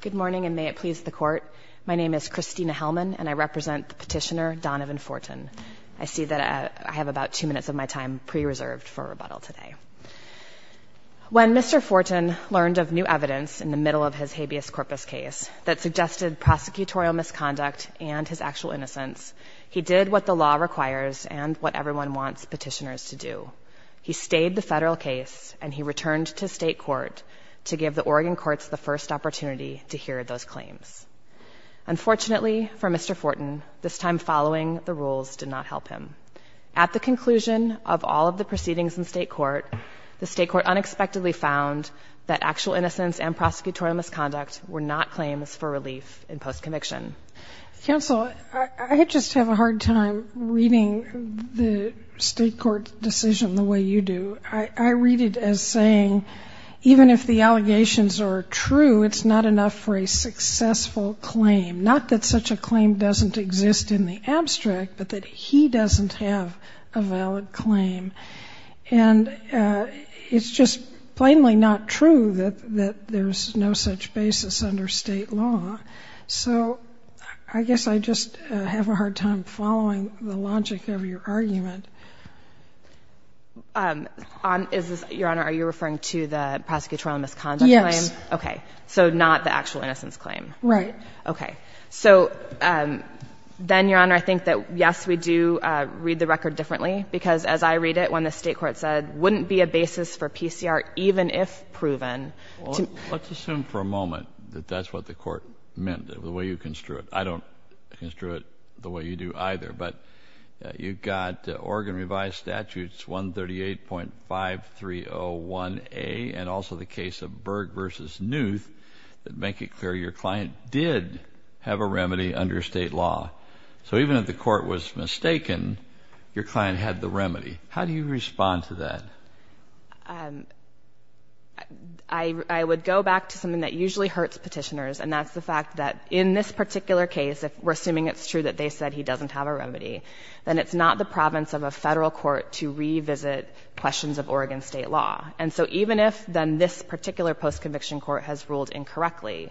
Good morning and may it please the court. My name is Christina Hellman and I represent the petitioner Donavan Fortin. I see that I have about two minutes of my time pre-reserved for a rebuttal today. When Mr. Fortin learned of new evidence in the middle of his habeas corpus case that suggested prosecutorial misconduct and his actual innocence, he did what the law requires and what everyone wants petitioners to do. He stayed the federal case and he returned to state court to give the Oregon courts the first opportunity to hear those claims. Unfortunately for Mr. Fortin, this time following the rules did not help him. At the conclusion of all of the proceedings in state court, the state court unexpectedly found that actual innocence and prosecutorial misconduct were not claims for relief in post conviction. Counsel, I just have a hard time reading the state court decision the way you do. I read it as saying even if the allegations are true, it's not enough for a successful claim. Not that such a claim doesn't exist in the abstract, but that he doesn't have a valid claim. And it's just plainly not true that there's no such basis under state law. So I guess I just have a hard time following the logic of your argument. Is this, Your Honor, are you referring to the prosecutorial misconduct claim? Yes. Okay. So not the actual innocence claim? Right. Okay. So then, Your Honor, I think that yes, we do read the record differently because as I read it when the state court said wouldn't be a basis for PCR even if proven. Well, let's assume for a moment that that's what the court meant, the way you construe it. I don't construe it the way you do either. But you've got Oregon revised statutes 138.5301A and also the case of Berg v. Newth that make it clear your client did have a remedy under state law. So even if the court was mistaken, your client had the remedy. How do you respond to that? I would go back to something that usually hurts petitioners, and that's the fact that in this particular case, if we're assuming it's true that they said he doesn't have a remedy, then it's not the province of a federal court to revisit questions of Oregon state law. And so even if then this particular post-conviction court has ruled incorrectly,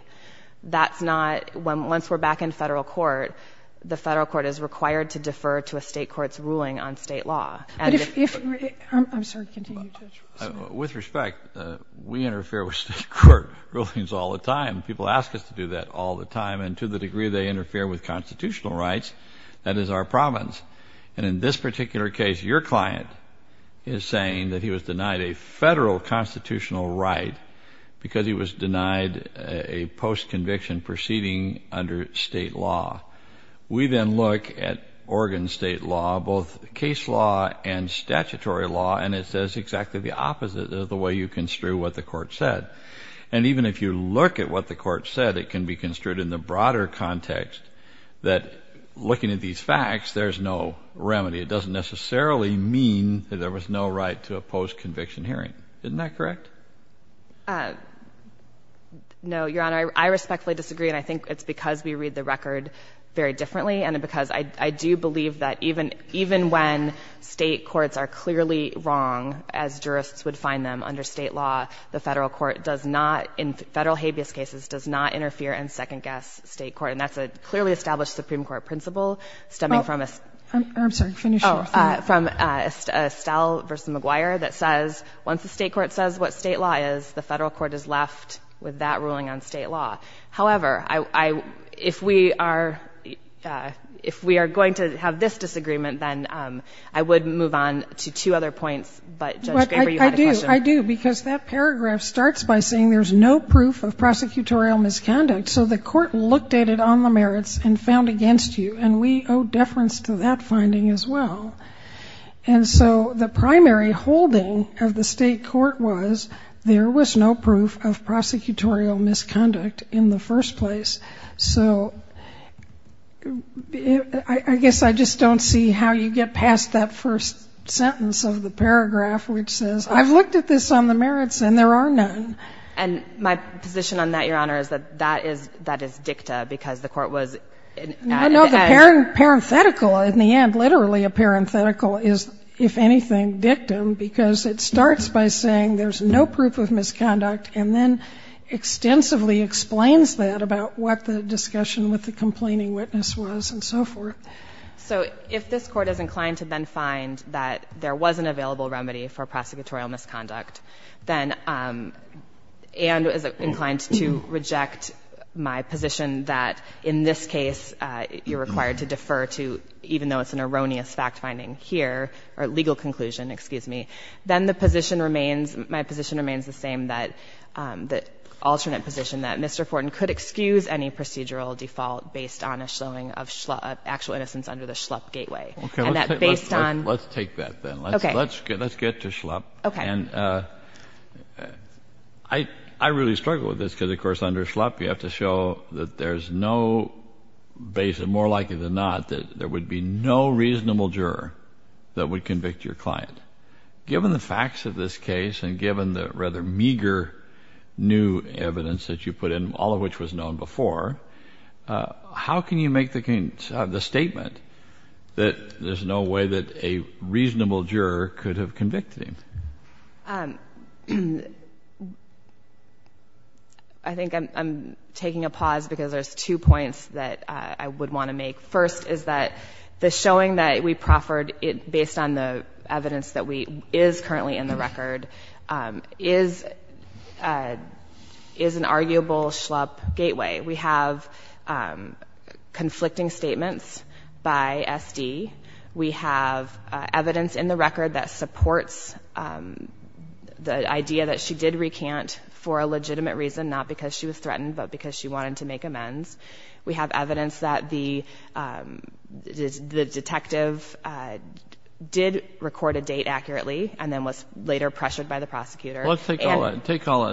that's not, once we're back in federal court, the federal court is required to defer to a state court's ruling on state law. But if, I'm sorry, continue. With respect, we interfere with state court rulings all the time. People ask us to do that all the time, and to the degree they interfere with constitutional rights, that is our province. And in this particular case, your client is saying that he was denied a federal constitutional right because he was denied a post-conviction proceeding under state law. We then look at Oregon state law, both case law and statutory law, and it says exactly the opposite of the way you construe what the court said. And even if you look at what the court said, it can be construed in the broader context that, looking at these facts, there's no remedy. It doesn't necessarily mean that there was no right to a post-conviction hearing. Isn't that correct? No, Your Honor, I respectfully disagree, and I think it's because we read the that even when state courts are clearly wrong, as jurists would find them under state law, the federal court does not, in federal habeas cases, does not interfere and second-guess state court. And that's a clearly established Supreme Court principle stemming from a... I'm sorry, finish your thing. Oh, from Estelle v. McGuire that says, once the state court says what state law is, the federal court is left with that ruling on state law. However, if we are going to have this disagreement, then I would move on to two other points, but Judge Graber, you had a question. I do, I do, because that paragraph starts by saying there's no proof of prosecutorial misconduct. So the court looked at it on the merits and found against you, and we owe deference to that finding as well. And so the primary holding of the state court was there was no proof of prosecutorial misconduct in the first place. So I guess I just don't see how you get past that first sentence of the paragraph, which says, I've looked at this on the merits and there are none. And my position on that, Your Honor, is that that is dicta, because the court was... No, no, the parenthetical in the end, literally a parenthetical, is, if anything, dictum, because it starts by saying there's no proof of misconduct and then extensively explains that about what the discussion with the complaining witness was and so forth. So if this Court is inclined to then find that there was an available remedy for prosecutorial misconduct, then, and is inclined to reject my position that in this case you're required to defer to, even though it's an erroneous fact finding here, or legal conclusion, excuse me, then the position remains, my position remains the same that, the alternate position, that Mr. Fortin could excuse any procedural default based on a showing of actual innocence under the Schlupp gateway. Okay, let's take that then. Let's get to Schlupp. Okay. And I really struggle with this because, of course, under Schlupp you have to show that there's no, more likely than not, that there would be no reasonable juror that would convict your client. Given the facts of this case and given the rather meager new evidence that you put in, all of which was known before, how can you make the statement that there's no way that a reasonable juror could have convicted him? I think I'm taking a pause because there's two points that I would want to make. First is that the showing that we proffered based on the evidence that is currently in the record is an arguable Schlupp gateway. We have conflicting statements by SD. We have evidence in the record that supports the idea that she did recant for a legitimate reason, not because she was threatened, but because she wanted to make amends. We have evidence that the detective did record a date accurately and then was later pressured by the prosecutor. Well, take all of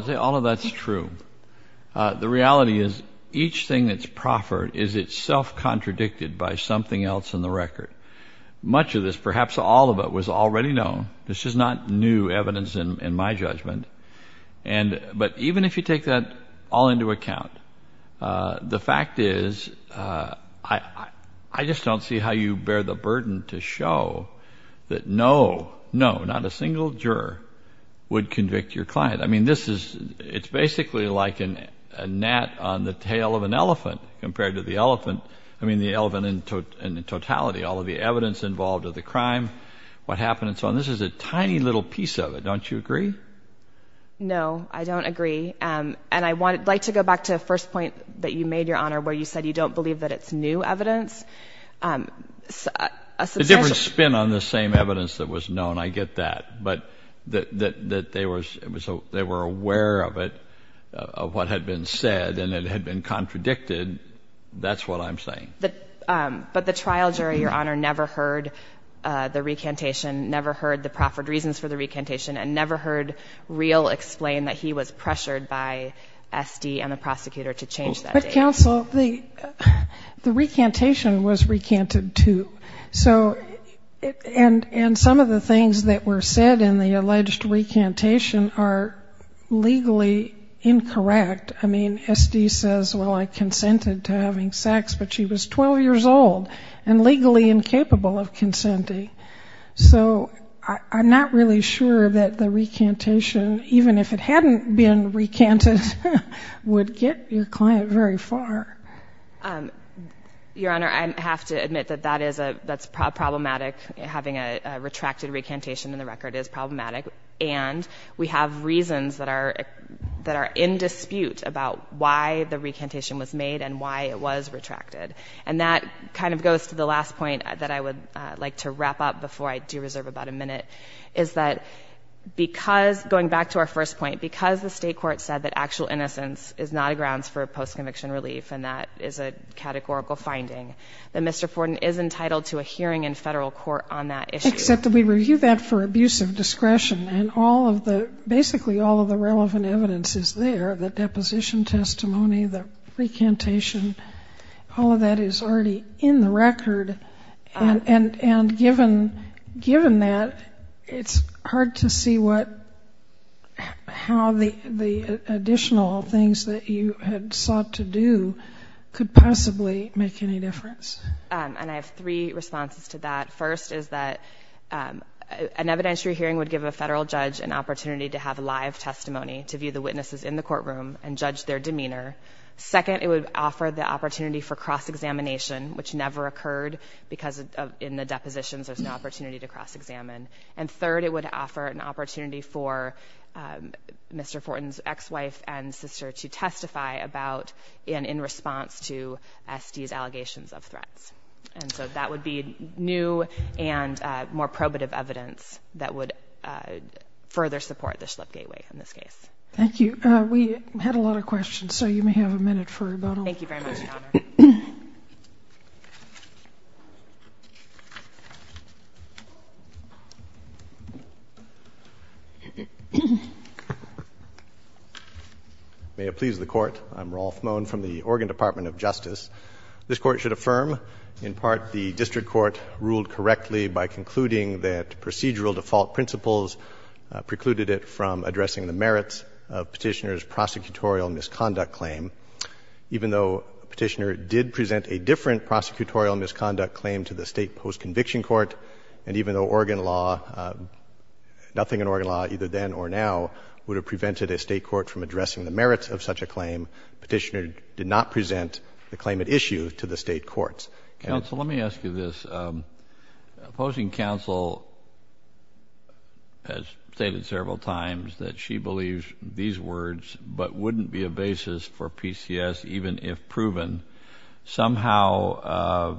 that. All of that's true. The reality is each thing that's proffered is itself contradicted by something else in the record. Much of this, perhaps all of it, was already known. This is not new evidence in my account. The fact is, I just don't see how you bear the burden to show that no, no, not a single juror would convict your client. I mean, this is, it's basically like a gnat on the tail of an elephant compared to the elephant, I mean, the elephant in totality. All of the evidence involved of the crime, what happened and so on. This is a tiny little piece of it. Don't you agree? No, I don't agree. And I'd like to go back to the first point that you made, Your Honor, where you said you don't believe that it's new evidence. A different spin on the same evidence that was known, I get that. But that they were aware of it, of what had been said, and it had been contradicted, that's what I'm saying. But the trial jury, Your Honor, never heard the recantation, never heard the real explain that he was pressured by SD and the prosecutor to change that date. But, counsel, the recantation was recanted too. So, and some of the things that were said in the alleged recantation are legally incorrect. I mean, SD says, well, I consented to having sex, but she was 12 years old and legally incapable of consenting. So, I'm not really sure that the recantation, even if it hadn't been recanted, would get your client very far. Your Honor, I have to admit that that's problematic. Having a retracted recantation in the record is problematic. And we have reasons that are in dispute about why the recantation was made and why it was retracted. And that kind of goes to the last point that I would like to wrap up before I do reserve about a minute, is that because, going back to our first point, because the state court said that actual innocence is not a grounds for post-conviction relief, and that is a categorical finding, that Mr. Forden is entitled to a hearing in federal court on that issue. Except that we review that for abuse of discretion. And all of the, basically all of the relevant evidence is there, the deposition testimony, the recantation, all of that is already in the record. And given that, it's hard to see what, how the additional things that you had sought to do could possibly make any difference. And I have three responses to that. First is that an evidentiary hearing would give a federal judge an opportunity to have live testimony to view the opportunity for cross-examination, which never occurred because of, in the depositions, there's no opportunity to cross-examine. And third, it would offer an opportunity for Mr. Forden's ex-wife and sister to testify about, and in response to, SD's allegations of threats. And so that would be new and more probative evidence that would further support the Schlipp Gateway in this case. Thank you. We had a lot of questions, so you may have a minute for about all of them. Thank you very much, Your Honor. May it please the Court. I'm Rolf Mohn from the Oregon Department of Justice. This Court should affirm, in part, the District Court ruled correctly by concluding that procedural default principles precluded it from addressing the merits of Petitioner's claim. So Petitioner did present a different prosecutorial misconduct claim to the state post-conviction court, and even though Oregon law, nothing in Oregon law, either then or now, would have prevented a state court from addressing the merits of such a claim, Petitioner did not present the claim at issue to the state courts. Counsel, let me ask you this. Opposing counsel has stated several times that she believes these words, but wouldn't be a basis for PCS even if proven. Somehow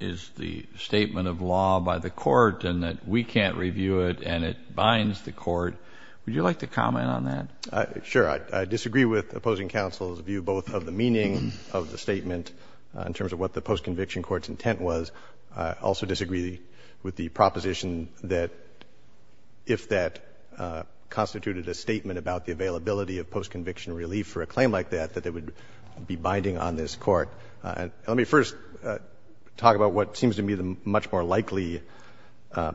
is the statement of law by the court and that we can't review it and it binds the court. Would you like to comment on that? Sure. I disagree with opposing counsel's view both of the meaning of the statement in terms of what the post-conviction court's intent was. I also disagree with the proposition that if that constituted a statement about the availability of post-conviction relief for a claim like that, that it would be binding on this court. Let me first talk about what seems to me the much more likely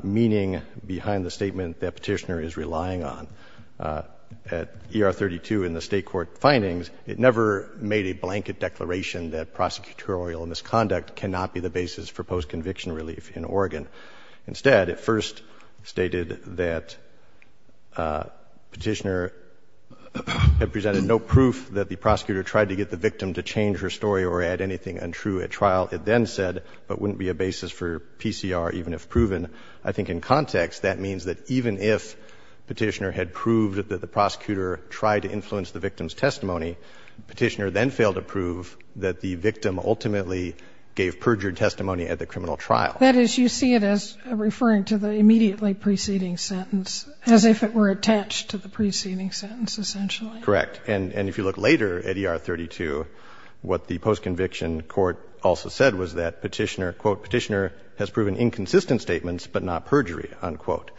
meaning behind the statement that Petitioner is relying on. At ER 32 in the state court findings, it never made a blanket declaration that prosecutorial misconduct cannot be the basis for post-conviction relief in Oregon. Instead, it first stated that Petitioner had presented no proof that the prosecutor tried to get the victim to change her story or add anything untrue at trial. It then said, but wouldn't be a basis for PCR even if proven. I think in context, that means that even if Petitioner had proved that the prosecutor tried to influence the victim's testimony, Petitioner then failed to prove that the prosecutor had improperly tried to influence the victim's testimony at trial. That is, you see it as referring to the immediately preceding sentence, as if it were attached to the preceding sentence, essentially. Correct. And if you look later at ER 32, what the post-conviction court also said was that Petitioner, quote, Petitioner has proven inconsistent statements but not perjury, unquote,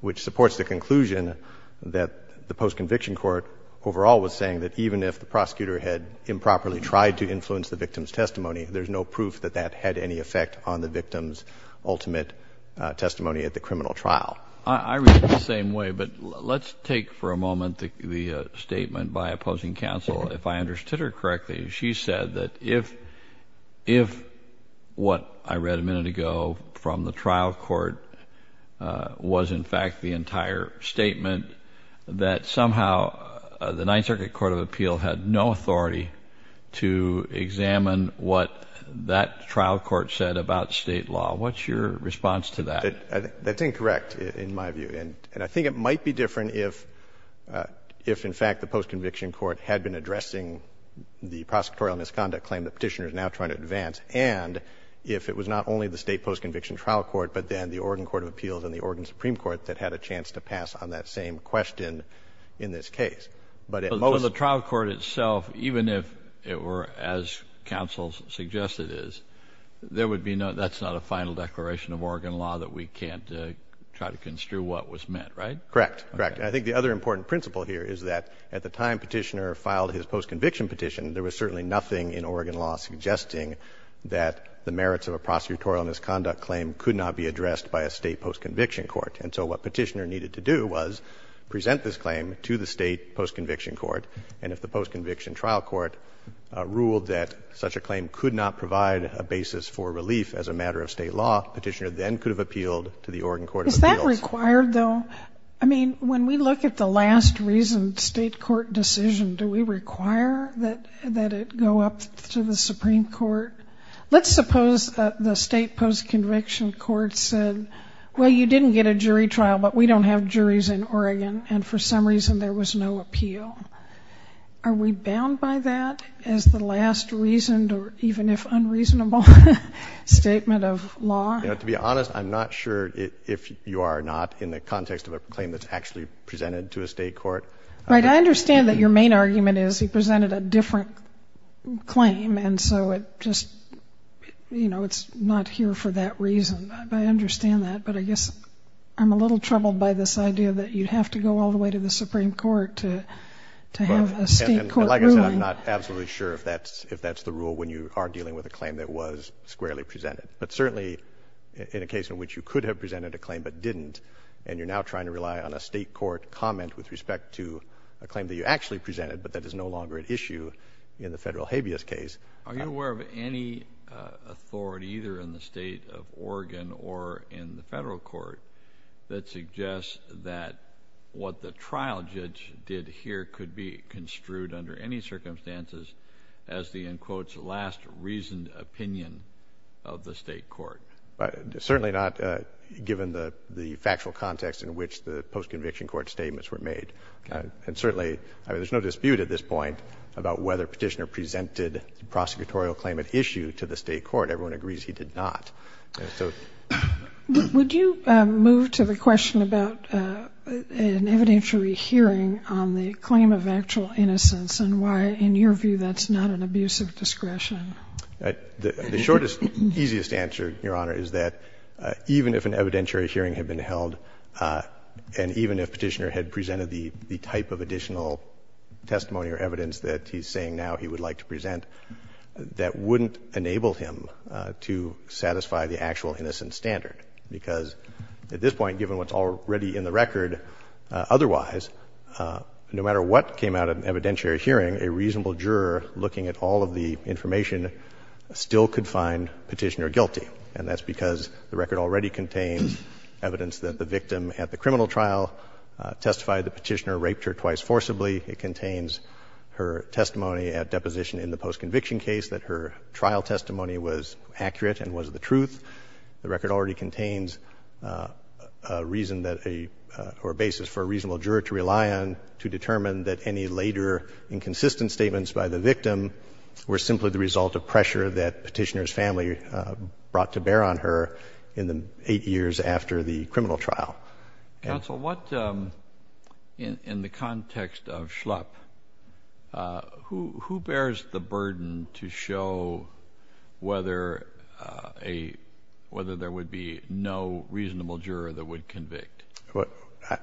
which supports the conclusion that the post-conviction court overall was saying that even if the prosecutor had improperly tried to influence the victim's testimony, there's no proof that that had any effect on the victim's ultimate testimony at the criminal trial. I read it the same way, but let's take for a moment the statement by opposing counsel. If I understood her correctly, she said that if what I read a minute ago from the trial court was in fact the post-conviction court had been addressing the prosecutorial misconduct claim that Petitioner is now trying to advance, and if it was not only the state post-conviction trial court but then the Oregon Court of Appeals and the Oregon Supreme Court that had a chance to pass on that same question in this case. But at most... So the trial court itself, even if it were as counsel's suggested is, there would be no, that's not a final declaration of Oregon law that we can't try to construe what was meant, right? Correct. Correct. I think the other important principle here is that at the time Petitioner filed his post-conviction petition, there was certainly nothing in Oregon law suggesting that the merits of a prosecutorial misconduct claim could not be addressed by a state post-conviction court. And so what Petitioner needed to do was present this claim to the state post-conviction court, and if the post-conviction trial court ruled that such a claim could not provide a basis for relief as a matter of state law, Petitioner then could have appealed to the Oregon Court of Appeals. Is that required, though? I mean, when we look at the last reasoned state court decision, do we require that it go up to the Supreme Court? Let's suppose that the state post-conviction court said, well, you didn't get a jury trial, but we don't have juries in Oregon, and for some reason there was no appeal. Are we bound by that as the last reasoned or even if unreasonable statement of law? To be honest, I'm not sure if you are not in the context of a claim that's actually presented to a state court. Right. I understand that your main argument is he presented a different claim, and so it just, you know, it's not here for that reason. I understand that, but I guess I'm a little troubled by this idea that you'd have to go all the way to the Supreme Court to have a state court ruling. Well, and like I said, I'm not absolutely sure if that's the rule when you are dealing with a claim that was squarely presented. But certainly in a case in which you could have presented a claim but didn't, and you're now trying to rely on a state court comment with respect to a claim that you actually presented, but that is no longer at issue in the federal habeas case. Are you aware of any authority either in the state of Oregon or in the federal court that suggests that what the trial judge did here could be construed under any circumstances as the, in quotes, last reasoned opinion of the state court? Certainly not, given the factual context in which the post-conviction court statements were made. And certainly, I mean, there's no dispute at this point about whether Petitioner presented the prosecutorial claim at issue to the state court. Everyone agrees he did not. Would you move to the question about an evidentiary hearing on the claim of actual innocence and why, in your view, that's not an abuse of discretion? The shortest, easiest answer, Your Honor, is that even if an evidentiary hearing had been held, and even if Petitioner had presented the type of additional testimony or evidence that he's saying now he would like to present, that wouldn't enable him to satisfy the actual innocence standard. Because at this point, given what's already in the record, otherwise, no matter what came out of an evidentiary hearing, a reasonable juror looking at all of the information still could find Petitioner guilty. And that's because the record already contains evidence that the victim at the criminal trial testified that Petitioner raped her twice forcibly. It contains her testimony at deposition in the post-conviction case, that her trial testimony was accurate and was the truth. The record already contains a reason that a — or a basis for a reasonable juror to rely on to determine that any later inconsistent statements by the victim were simply the result of pressure that Petitioner's family brought to bear on her in the eight years after the criminal trial. Counsel, what — in the context of Schlupp, who bears the burden to show whether a — whether there would be no reasonable juror that would convict? Well,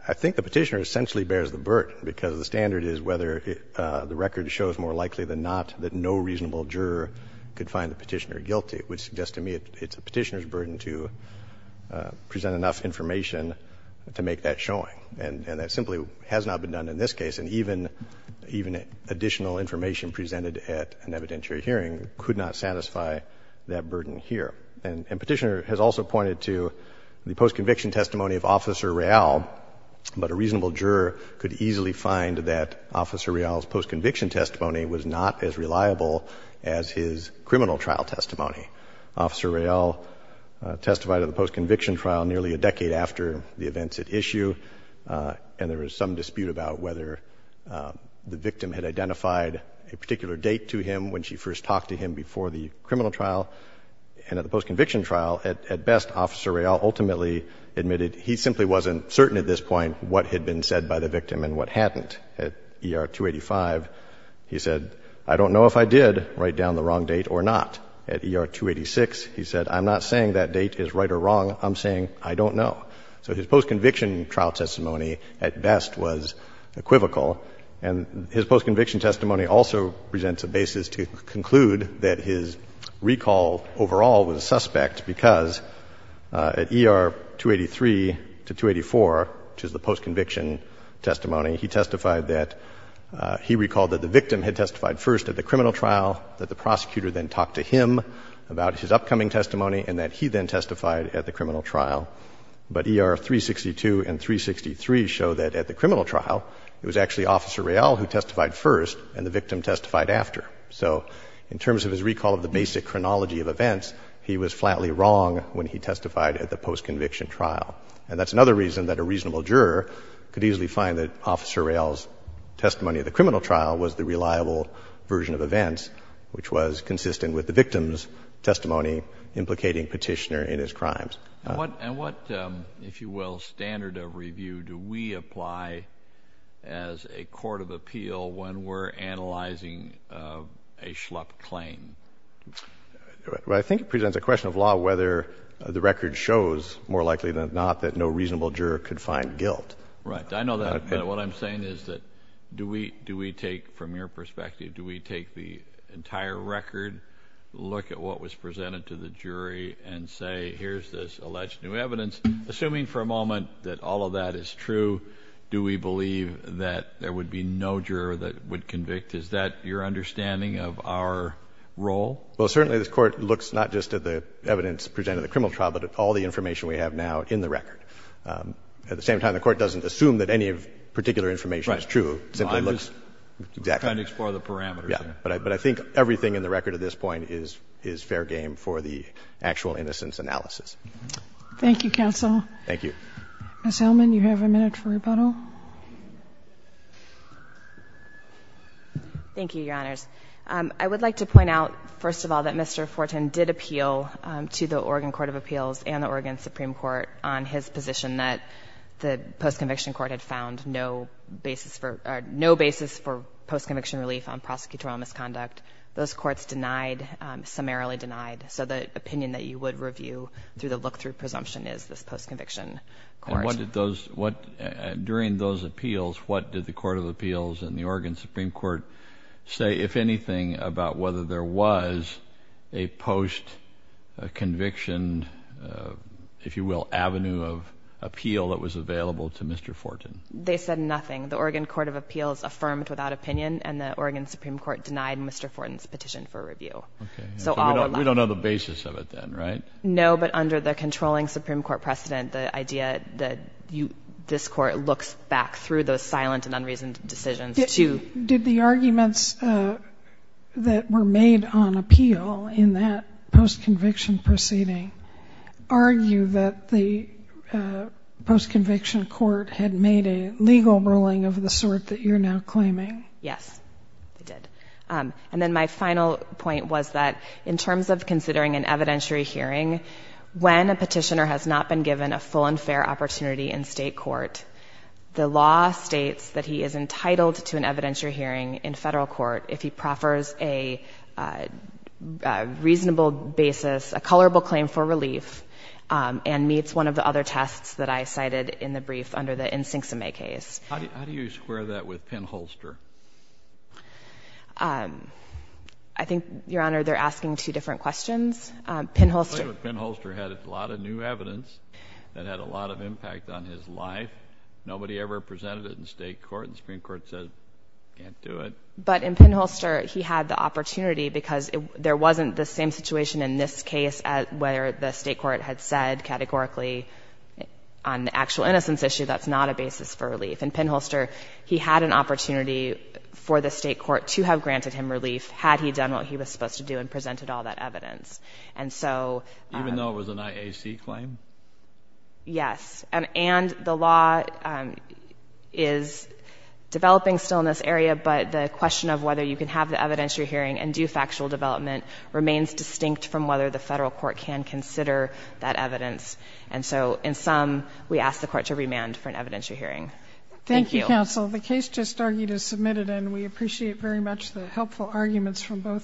I think the Petitioner essentially bears the burden, because the standard is whether the record shows more likely than not that no reasonable juror could find the Petitioner guilty, which suggests to me it's the Petitioner's burden to present enough information to make that showing. And that simply has not been done in this case. And even additional information presented at an evidentiary hearing could not satisfy that burden here. And Petitioner has also pointed to the post-conviction testimony of Officer Real, but a reasonable juror could easily find that Officer Real's post-conviction testimony was not as reliable as his criminal trial testimony. Officer Real testified at the post-conviction trial nearly a decade after the events at issue, and there was some dispute about whether the victim had identified a particular date to him when she first talked to him before the criminal trial. And at the post-conviction trial, at best, Officer Real ultimately admitted he simply wasn't certain at this point what had been said by the victim and what hadn't. At ER-285, he said, I don't know if I did write down the wrong date or not. At ER-286, he said, I'm not saying that date is right or wrong. I'm saying I don't know. So his post-conviction trial testimony at best was equivocal. And his post-conviction testimony also presents a basis to conclude that his recall overall was suspect because at ER-283 to 284, which is the post-conviction testimony, he testified that he recalled that the victim had testified first at the criminal trial, that the prosecutor then talked to him about his upcoming testimony and that he then testified at the criminal trial. But ER-362 and 363 show that at the criminal trial, it was actually Officer Real who testified first and the victim testified after. So in terms of his recall of the basic chronology of events, he was flatly wrong when he testified at the post-conviction trial. And that's another reason that a reasonable juror could easily find that Officer Real's testimony at the criminal trial was the reliable version of events, which was consistent with the victim's testimony implicating Petitioner in his crimes. And what, if you will, standard of review do we apply as a court of appeal when we're analyzing a schlup claim? I think it presents a question of law whether the record shows more likely than not that no reasonable juror could find guilt. Right. I know that. But what I'm saying is that do we take, from your perspective, do we take the entire record, look at what was presented to the jury and say, here's this alleged new evidence, assuming for a moment that all of that is true, do we believe that there would be no juror that would convict? Is that your understanding of our role? Well, certainly this Court looks not just at the evidence presented at the criminal trial, but at all the information we have now in the record. At the same time, the Court doesn't assume that any particular information is true. Right. I'm just trying to explore the parameters there. Yeah. But I think everything in the record at this point is fair game for the actual innocence analysis. Thank you, counsel. Thank you. Ms. Hillman, you have a minute for rebuttal. Thank you, Your Honors. I would like to point out, first of all, that Mr. Fortin did appeal to the Oregon Court of Appeals and the Oregon Supreme Court on his position that the post-conviction court had found no basis for post-conviction relief on prosecutorial misconduct. Those courts denied, summarily denied. So the opinion that you would review through the look-through presumption is this post-conviction court. During those appeals, what did the Court of Appeals and the Oregon Supreme Court say, if anything, about whether there was a post-conviction, if you will, avenue of appeal that was available to Mr. Fortin? They said nothing. The Oregon Court of Appeals affirmed without opinion, and the Oregon Supreme Court denied Mr. Fortin's petition for review. So we don't know the basis of it then, right? No, but under the controlling Supreme Court precedent, the idea that this court looks back through those silent and unreasoned decisions to... Did the arguments that were made on appeal in that post-conviction proceeding argue that the post-conviction court had made a legal ruling of the sort that Yes, it did. And then my final point was that in terms of considering an evidentiary hearing, when a petitioner has not been given a full and fair opportunity in state court, the law states that he is entitled to an evidentiary hearing in federal court if he proffers a reasonable basis, a colorable claim for relief, and meets one of the other tests that I cited in the brief under the Nsinghsime case. How do you square that with Penn-Holster? I think, Your Honor, they're asking two different questions. Penn-Holster... Penn-Holster had a lot of new evidence that had a lot of impact on his life. Nobody ever presented it in state court. The Supreme Court said, can't do it. But in Penn-Holster, he had the opportunity because there wasn't the same situation in this case where the state court had said categorically on the actual innocence issue that's not a basis for relief. In Penn-Holster, he had an opportunity for the state court to have granted him relief had he done what he was supposed to do and presented all that evidence. And so... Even though it was an IAC claim? Yes. And the law is developing still in this area, but the question of whether you can have the evidentiary hearing and do factual development remains distinct from whether the federal court can consider that evidence. And so, in sum, we ask the court to remand for an evidentiary hearing. Thank you. Thank you, counsel. The case just argued is submitted, and we appreciate very much the helpful arguments from both sides.